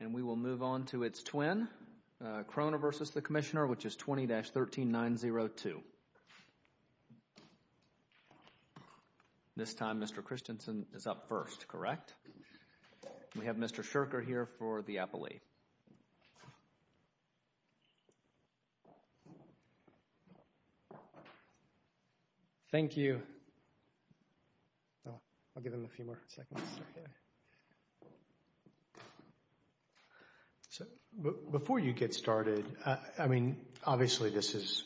And we will move on to its twin, Kroner v. Commissioner, which is 20-13902. This time Mr. Christensen is up first, correct? We have Mr. Scherker here for the appellee. Thank you. Thank you. I'll give him a few more seconds. Before you get started, I mean, obviously this is,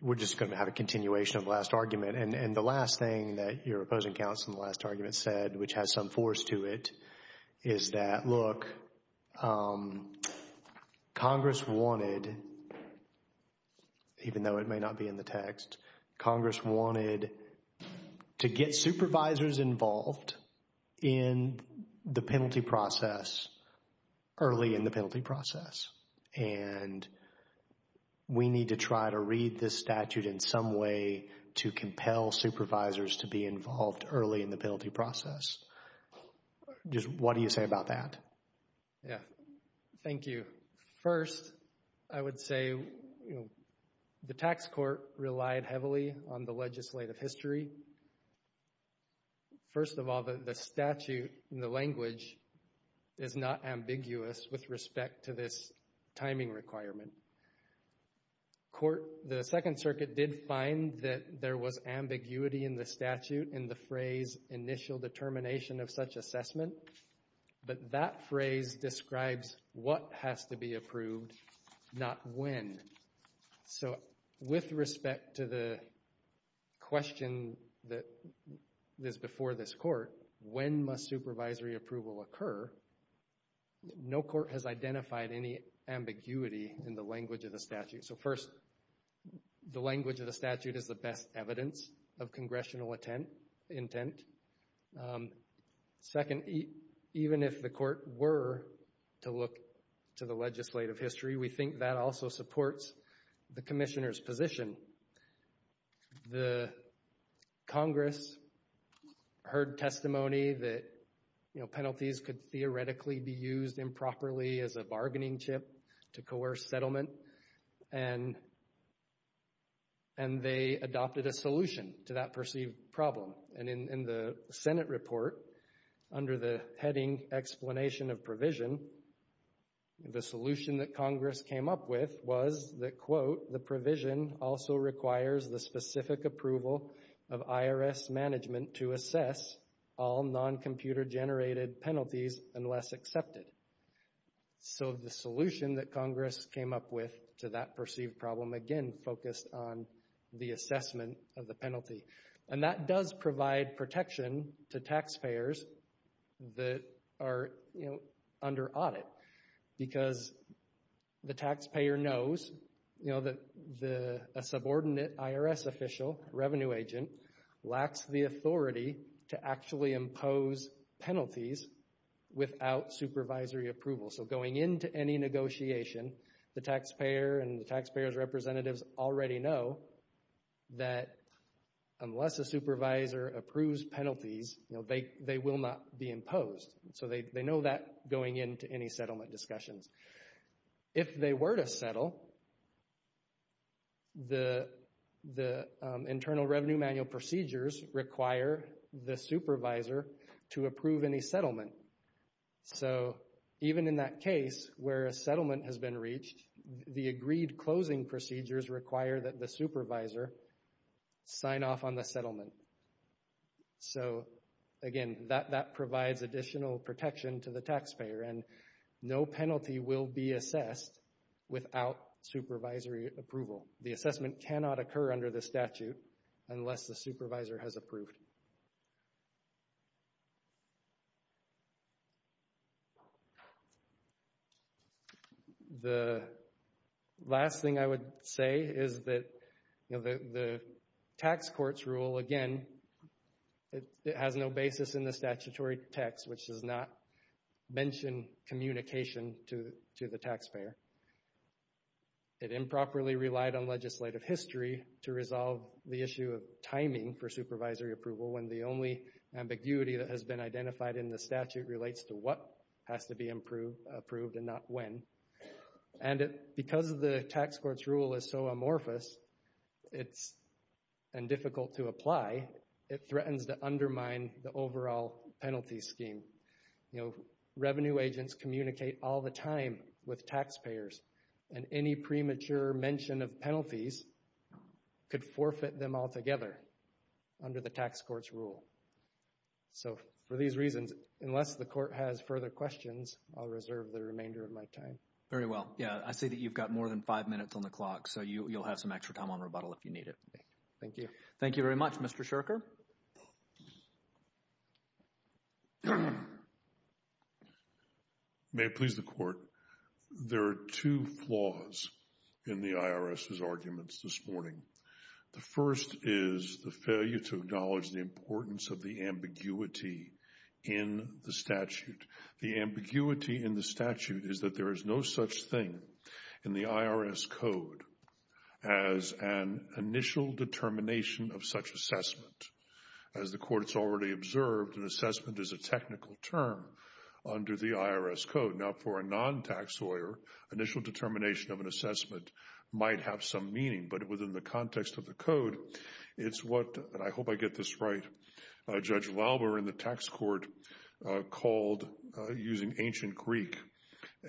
we're just going to have a continuation of the last argument. And the last thing that your opposing counsel in the last argument said, which has some force to it, is that, look, Congress wanted, even though it may not be in the text, Congress wanted to get supervisors involved in the penalty process early in the penalty process. And we need to try to read this statute in some way to compel supervisors to be involved early in the penalty process. Just what do you say about that? Yeah, thank you. First, I would say the tax court relied heavily on the legislative history. First of all, the statute in the language is not ambiguous with respect to this timing requirement. The Second Circuit did find that there was ambiguity in the statute in the phrase initial determination of such assessment. But that phrase describes what has to be approved, not when. So with respect to the question that is before this court, when must supervisory approval occur? No court has identified any ambiguity in the language of the statute. So first, the language of the statute is the best evidence of congressional intent. Second, even if the court were to look to the legislative history, we think that also supports the commissioner's position. Congress heard testimony that penalties could theoretically be used improperly as a bargaining chip to coerce settlement. And they adopted a solution to that perceived problem. And in the Senate report, under the heading Explanation of Provision, the solution that Congress came up with was that, quote, the provision also requires the specific approval of IRS management to assess all non-computer generated penalties unless accepted. So the solution that Congress came up with to that perceived problem, again, focused on the assessment of the penalty. And that does provide protection to taxpayers that are, you know, under audit. Because the taxpayer knows, you know, that a subordinate IRS official, revenue agent, lacks the authority to actually impose penalties without supervisory approval. So going into any negotiation, the taxpayer and the taxpayer's representatives already know that unless a supervisor approves penalties, you know, they will not be imposed. So they know that going into any settlement discussions. If they were to settle, the Internal Revenue Manual procedures require the supervisor to approve any settlement. So even in that case where a settlement has been reached, the agreed closing procedures require that the supervisor sign off on the settlement. So, again, that provides additional protection to the taxpayer. And no penalty will be assessed without supervisory approval. The assessment cannot occur under the statute unless the supervisor has approved. The last thing I would say is that, you know, the tax court's rule, again, it has no basis in the statutory text, which does not mention communication to the taxpayer. It improperly relied on legislative history to resolve the issue of timing for supervisory approval when the only ambiguity that has been identified in the statute relates to what has to be approved and not when. And because the tax court's rule is so amorphous and difficult to apply, it threatens to undermine the overall penalty scheme. You know, revenue agents communicate all the time with taxpayers, and any premature mention of penalties could forfeit them altogether under the tax court's rule. So for these reasons, unless the court has further questions, I'll reserve the remainder of my time. Very well. Yeah, I see that you've got more than five minutes on the clock, so you'll have some extra time on rebuttal if you need it. Thank you. Thank you very much, Mr. Sherker. May it please the Court, there are two flaws in the IRS's arguments this morning. The first is the failure to acknowledge the importance of the ambiguity in the statute. The ambiguity in the statute is that there is no such thing in the IRS Code as an initial determination of such assessment. As the Court's already observed, an assessment is a technical term under the IRS Code. Now, for a non-tax lawyer, initial determination of an assessment might have some meaning, but within the context of the Code, it's what, and I hope I get this right, Judge Lalber in the tax court called, using ancient Greek,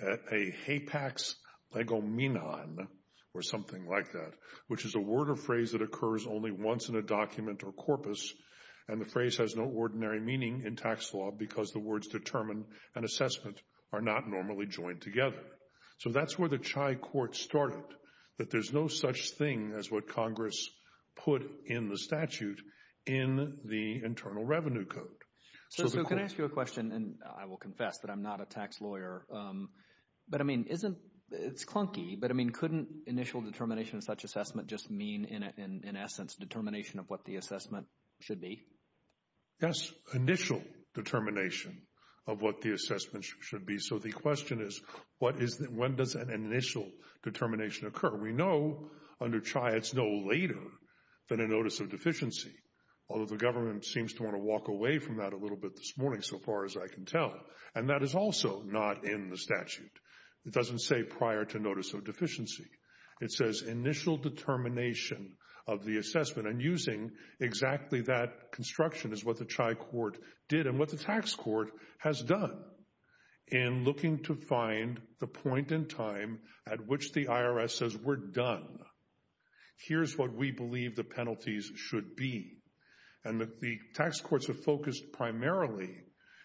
a hapex legomenon, or something like that, which is a word or phrase that occurs only once in a document or corpus, and the phrase has no ordinary meaning in tax law because the words determine and assessment are not normally joined together. So that's where the Chai Court started, that there's no such thing as what Congress put in the statute in the Internal Revenue Code. So can I ask you a question, and I will confess that I'm not a tax lawyer, but I mean, it's clunky, but I mean, couldn't initial determination of such assessment just mean, in essence, determination of what the assessment should be? Yes, initial determination of what the assessment should be. So the question is, when does an initial determination occur? We know under Chai it's no later than a notice of deficiency, although the government seems to want to walk away from that a little bit this morning, so far as I can tell, and that is also not in the statute. It doesn't say prior to notice of deficiency. It says initial determination of the assessment, and using exactly that construction is what the Chai Court did and what the tax court has done in looking to find the point in time at which the IRS says we're done. Here's what we believe the penalties should be. And the tax courts are focused primarily,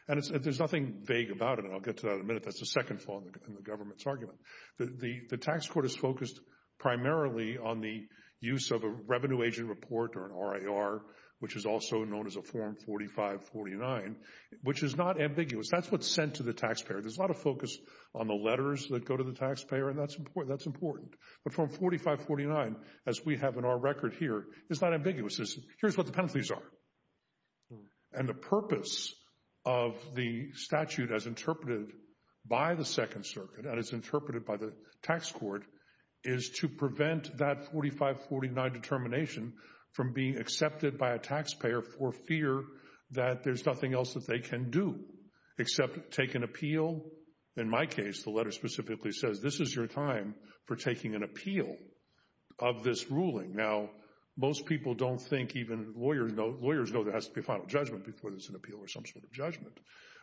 and there's nothing vague about it, and I'll get to that in a minute. That's the second flaw in the government's argument. The tax court is focused primarily on the use of a revenue agent report or an RIR, which is also known as a Form 4549, which is not ambiguous. That's what's sent to the taxpayer. There's a lot of focus on the letters that go to the taxpayer, and that's important. But Form 4549, as we have in our record here, is not ambiguous. Here's what the penalties are. And the purpose of the statute, as interpreted by the Second Circuit and as interpreted by the tax court, is to prevent that 4549 determination from being accepted by a taxpayer for fear that there's nothing else that they can do except take an appeal. In my case, the letter specifically says this is your time for taking an appeal of this ruling. Now, most people don't think even lawyers know there has to be a final judgment before there's an appeal or some sort of judgment.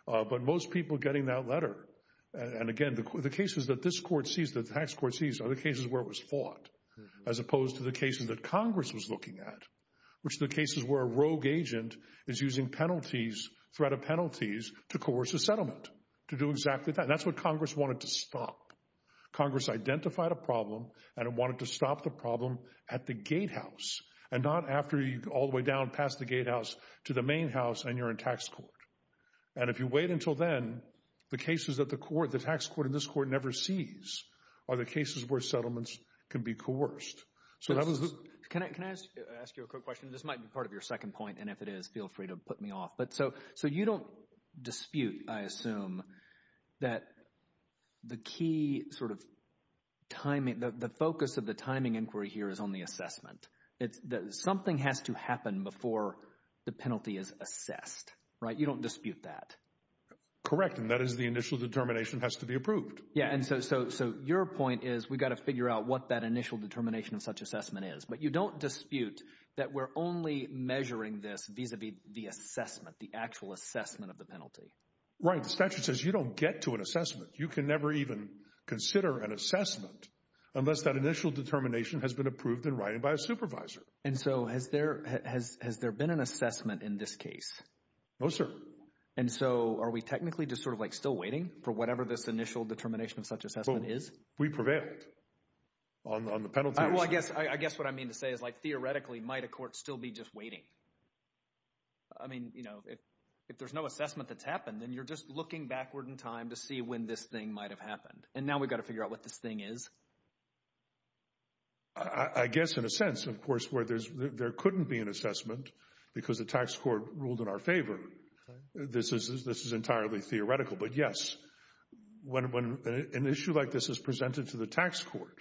But most people getting that letter, and again, the cases that this court sees, that the tax court sees, are the cases where it was fought as opposed to the cases that Congress was looking at, which are the cases where a rogue agent is using penalties, threat of penalties, to coerce a settlement, to do exactly that. And that's what Congress wanted to stop. Congress identified a problem and it wanted to stop the problem at the gatehouse and not after you all the way down past the gatehouse to the main house and you're in tax court. And if you wait until then, the cases that the court, the tax court in this court, never sees are the cases where settlements can be coerced. Can I ask you a quick question? This might be part of your second point, and if it is, feel free to put me off. But so you don't dispute, I assume, that the key sort of timing, the focus of the timing inquiry here is on the assessment. Something has to happen before the penalty is assessed, right? You don't dispute that. Correct, and that is the initial determination has to be approved. Yeah, and so your point is we've got to figure out what that initial determination of such assessment is. But you don't dispute that we're only measuring this vis-a-vis the assessment, the actual assessment of the penalty. Right, the statute says you don't get to an assessment. You can never even consider an assessment unless that initial determination has been approved in writing by a supervisor. And so has there been an assessment in this case? No, sir. And so are we technically just sort of like still waiting for whatever this initial determination of such assessment is? We prevailed on the penalty. Well, I guess what I mean to say is like theoretically might a court still be just waiting? I mean, you know, if there's no assessment that's happened, then you're just looking backward in time to see when this thing might have happened. And now we've got to figure out what this thing is? I guess in a sense, of course, where there couldn't be an assessment because the tax court ruled in our favor. This is entirely theoretical. But yes, when an issue like this is presented to the tax court,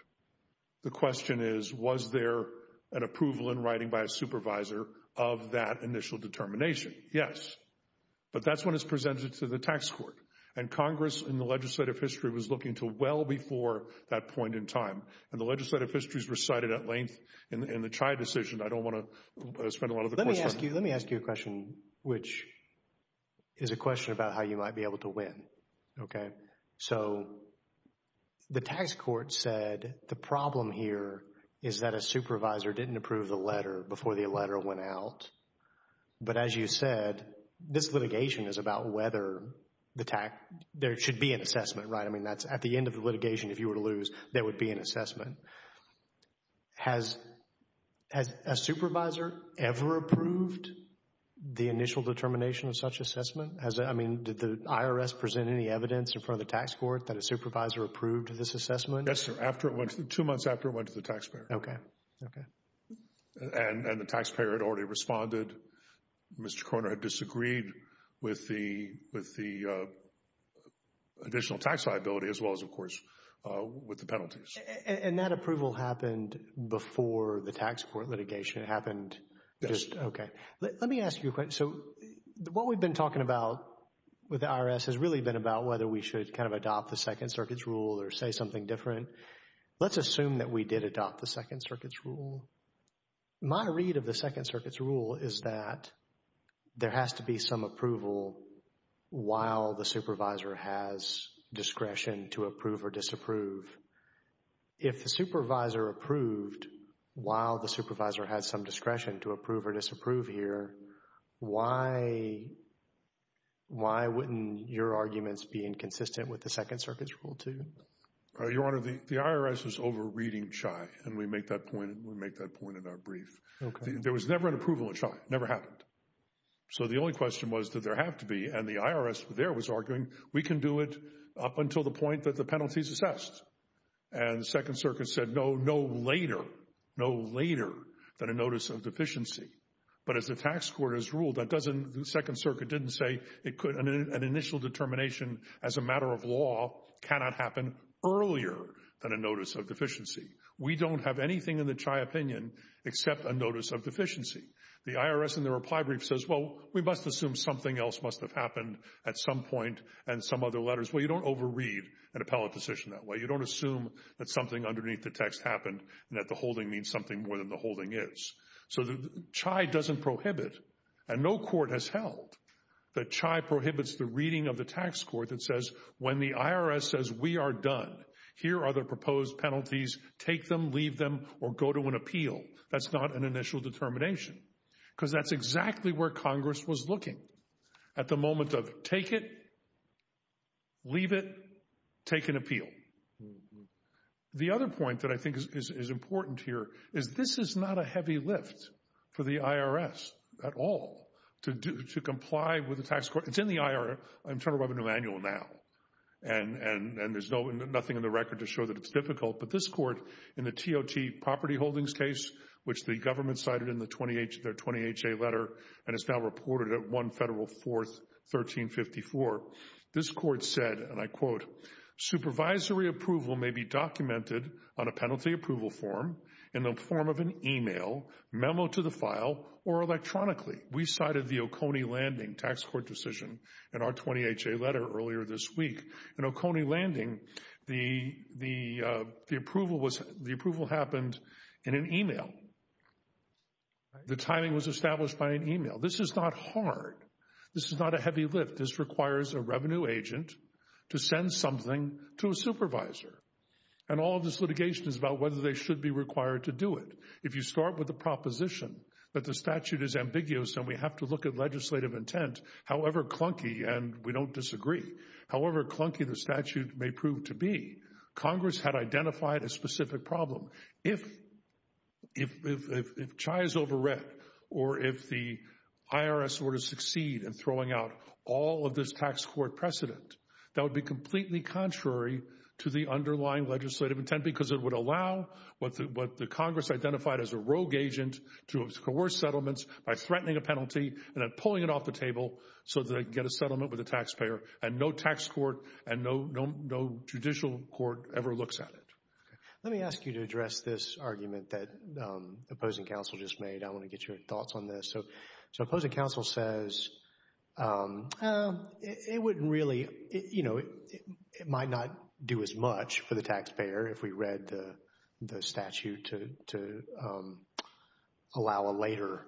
the question is, was there an approval in writing by a supervisor of that initial determination? Yes. But that's when it's presented to the tax court. And Congress in the legislative history was looking to well before that point in time. And the legislative histories recited at length in the Chai decision. I don't want to spend a lot of the course time. Let me ask you a question, which is a question about how you might be able to win. Okay. So the tax court said the problem here is that a supervisor didn't approve the letter before the letter went out. But as you said, this litigation is about whether there should be an assessment, right? I mean, that's at the end of the litigation. If you were to lose, there would be an assessment. Has a supervisor ever approved the initial determination of such assessment? I mean, did the IRS present any evidence in front of the tax court that a supervisor approved this assessment? Yes, sir. Two months after it went to the taxpayer. Okay. Okay. And the taxpayer had already responded. Mr. Korner had disagreed with the additional tax liability as well as, of course, with the penalties. And that approval happened before the tax court litigation happened? Yes. Okay. Let me ask you a question. So what we've been talking about with the IRS has really been about whether we should kind of adopt the Second Circuit's rule or say something different. My read of the Second Circuit's rule is that there has to be some approval while the supervisor has discretion to approve or disapprove. If the supervisor approved while the supervisor had some discretion to approve or disapprove here, why wouldn't your arguments be inconsistent with the Second Circuit's rule too? Your Honor, the IRS is over-reading CHI, and we make that point in our brief. Okay. There was never an approval of CHI. It never happened. So the only question was, did there have to be? And the IRS there was arguing we can do it up until the point that the penalty is assessed. And the Second Circuit said no, no later, no later than a notice of deficiency. But as the tax court has ruled, the Second Circuit didn't say an initial determination as a matter of law cannot happen earlier than a notice of deficiency. We don't have anything in the CHI opinion except a notice of deficiency. The IRS in their reply brief says, well, we must assume something else must have happened at some point and some other letters. Well, you don't over-read an appellate decision that way. You don't assume that something underneath the text happened and that the holding means something more than the holding is. So the CHI doesn't prohibit, and no court has held, that CHI prohibits the reading of the tax court that says when the IRS says we are done, here are the proposed penalties. Take them, leave them, or go to an appeal. That's not an initial determination because that's exactly where Congress was looking at the moment of take it, leave it, take an appeal. The other point that I think is important here is this is not a heavy lift for the IRS at all to comply with the tax court. It's in the Internal Revenue Manual now, and there's nothing in the record to show that it's difficult. But this court in the TOT property holdings case, which the government cited in their 20HA letter, and it's now reported at 1 Federal 4th, 1354. This court said, and I quote, Supervisory approval may be documented on a penalty approval form in the form of an email, memo to the file, or electronically. We cited the Oconee Landing tax court decision in our 20HA letter earlier this week. In Oconee Landing, the approval happened in an email. The timing was established by an email. This is not hard. This is not a heavy lift. This requires a revenue agent to send something to a supervisor. And all of this litigation is about whether they should be required to do it. If you start with the proposition that the statute is ambiguous and we have to look at legislative intent, however clunky, and we don't disagree, however clunky the statute may prove to be, Congress had identified a specific problem. If CHI is over read or if the IRS were to succeed in throwing out all of this tax court precedent, that would be completely contrary to the underlying legislative intent because it would allow what the Congress identified as a rogue agent to coerce settlements by threatening a penalty and then pulling it off the table so that they can get a settlement with the taxpayer and no tax court and no judicial court ever looks at it. Let me ask you to address this argument that opposing counsel just made. I want to get your thoughts on this. So opposing counsel says it wouldn't really, you know, it might not do as much for the taxpayer if we read the statute to allow a later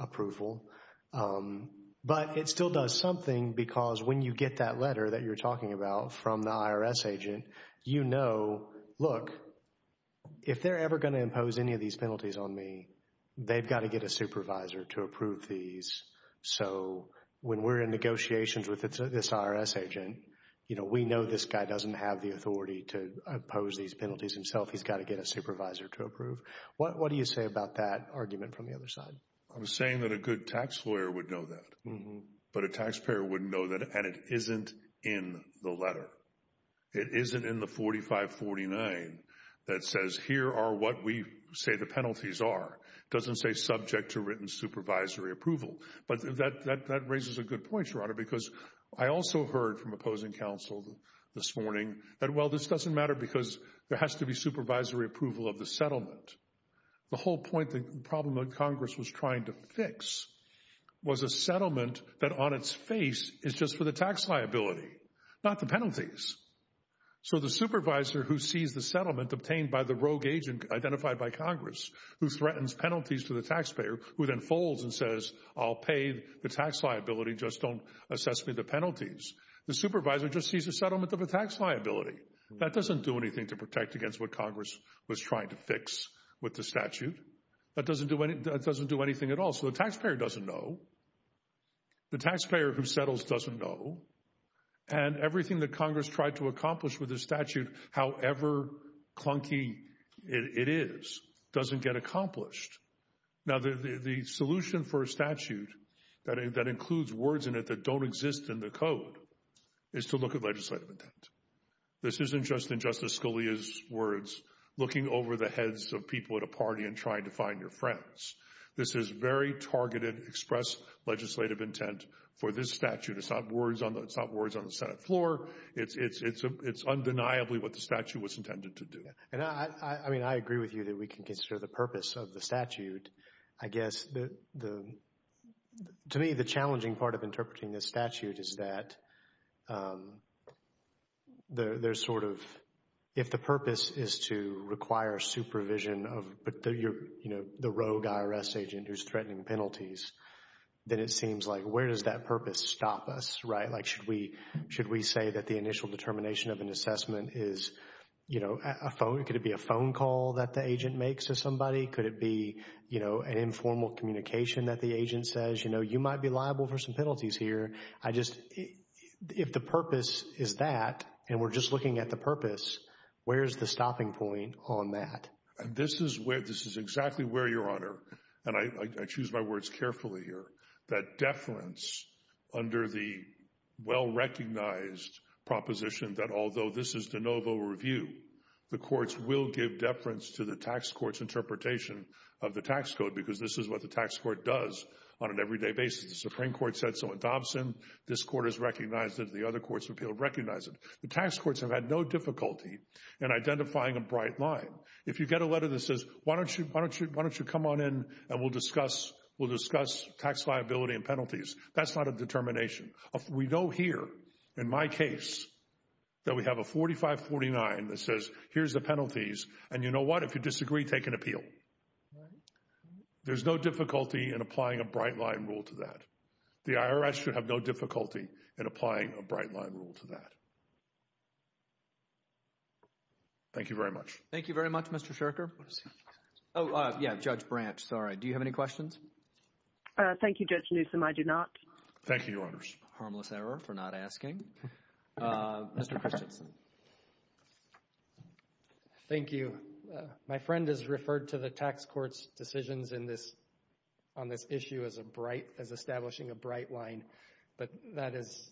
approval. But it still does something because when you get that letter that you're talking about from the IRS agent, you know, look, if they're ever going to impose any of these penalties on me, they've got to get a supervisor to approve these. So when we're in negotiations with this IRS agent, you know, we know this guy doesn't have the authority to oppose these penalties himself. He's got to get a supervisor to approve. What do you say about that argument from the other side? I'm saying that a good tax lawyer would know that, but a taxpayer wouldn't know that. And it isn't in the letter. It isn't in the 4549 that says here are what we say the penalties are. It doesn't say subject to written supervisory approval. But that raises a good point, Your Honor, because I also heard from opposing counsel this morning that, well, this doesn't matter because there has to be supervisory approval of the settlement. The whole point, the problem that Congress was trying to fix was a settlement that on its face is just for the tax liability, not the penalties. So the supervisor who sees the settlement obtained by the rogue agent identified by Congress, who threatens penalties to the taxpayer, who then folds and says, I'll pay the tax liability. Just don't assess me the penalties. The supervisor just sees a settlement of a tax liability. That doesn't do anything to protect against what Congress was trying to fix with the statute. That doesn't do anything at all. So the taxpayer doesn't know. The taxpayer who settles doesn't know. And everything that Congress tried to accomplish with the statute, however clunky it is, doesn't get accomplished. Now, the solution for a statute that includes words in it that don't exist in the Code is to look at legislative intent. This isn't just in Justice Scalia's words, looking over the heads of people at a party and trying to find your friends. This is very targeted, express legislative intent for this statute. It's not words on the Senate floor. It's undeniably what the statute was intended to do. I mean, I agree with you that we can consider the purpose of the statute. I guess, to me, the challenging part of interpreting this statute is that there's sort of, if the purpose is to require supervision of the rogue IRS agent who's threatening penalties, then it seems like where does that purpose stop us, right? Like, should we say that the initial determination of an assessment is, you know, a phone? Could it be a phone call that the agent makes to somebody? Could it be, you know, an informal communication that the agent says, you know, you might be liable for some penalties here? If the purpose is that, and we're just looking at the purpose, where is the stopping point on that? This is exactly where, Your Honor, and I choose my words carefully here, that deference under the well-recognized proposition that although this is de novo review, the courts will give deference to the tax court's interpretation of the tax code because this is what the tax court does on an everyday basis. The Supreme Court said so in Dobson. This court has recognized it. The other courts have been able to recognize it. The tax courts have had no difficulty in identifying a bright line. If you get a letter that says, why don't you come on in and we'll discuss tax liability and penalties, that's not a determination. We know here, in my case, that we have a 45-49 that says here's the penalties, and you know what? If you disagree, take an appeal. There's no difficulty in applying a bright line rule to that. The IRS should have no difficulty in applying a bright line rule to that. Thank you very much. Thank you very much, Mr. Sherker. Oh, yeah, Judge Branch. Sorry. Do you have any questions? Thank you, Judge Newsom. I do not. Thank you, Your Honor. Harmless error for not asking. Mr. Christensen. Thank you. My friend has referred to the tax court's decisions on this issue as establishing a bright line, but that is,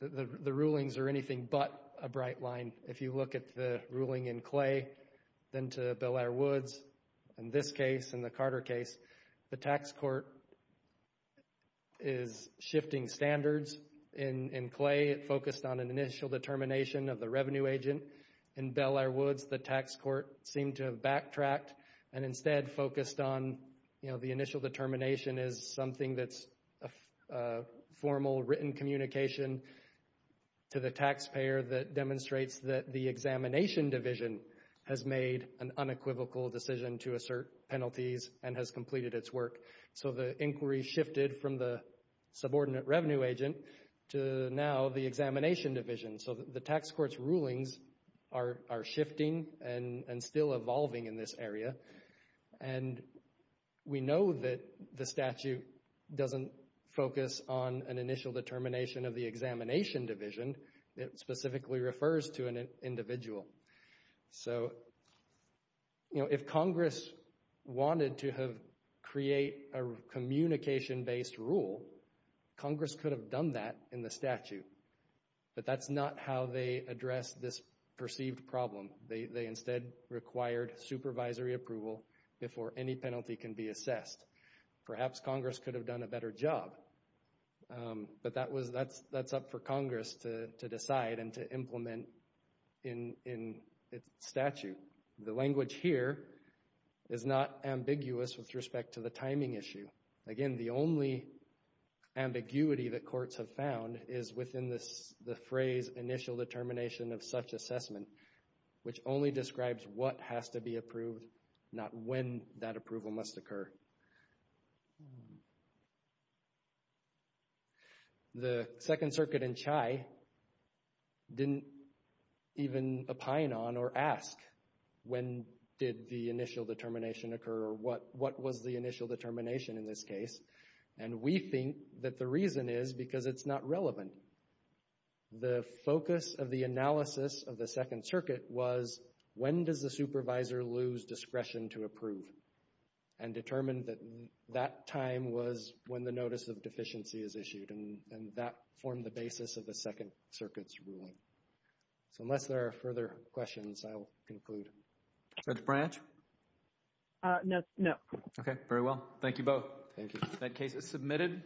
the rulings are anything but a bright line. If you look at the ruling in Clay, then to Bel Air Woods, in this case, in the Carter case, the tax court is shifting standards. In Clay, it focused on an initial determination of the revenue agent. In Bel Air Woods, the tax court seemed to have backtracked and instead focused on, you know, the initial determination is something that's a formal written communication to the taxpayer that demonstrates that the examination division has made an unequivocal decision to assert penalties and has completed its work. So the inquiry shifted from the subordinate revenue agent to now the examination division. So the tax court's rulings are shifting and still evolving in this area. And we know that the statute doesn't focus on an initial determination of the examination division. It specifically refers to an individual. So, you know, if Congress wanted to create a communication-based rule, Congress could have done that in the statute. But that's not how they addressed this perceived problem. They instead required supervisory approval before any penalty can be assessed. Perhaps Congress could have done a better job. But that's up for Congress to decide and to implement in its statute. The language here is not ambiguous with respect to the timing issue. Again, the only ambiguity that courts have found is within the phrase initial determination of such assessment, which only describes what has to be approved, not when that approval must occur. The Second Circuit in Chai didn't even opine on or ask when did the initial determination occur or what was the initial determination in this case. And we think that the reason is because it's not relevant. The focus of the analysis of the Second Circuit was when does the supervisor lose discretion to approve and determined that that time was when the notice of deficiency is issued. And that formed the basis of the Second Circuit's ruling. So unless there are further questions, I will conclude. Judge Branch? No. Okay. Very well. Thank you both. That case is submitted.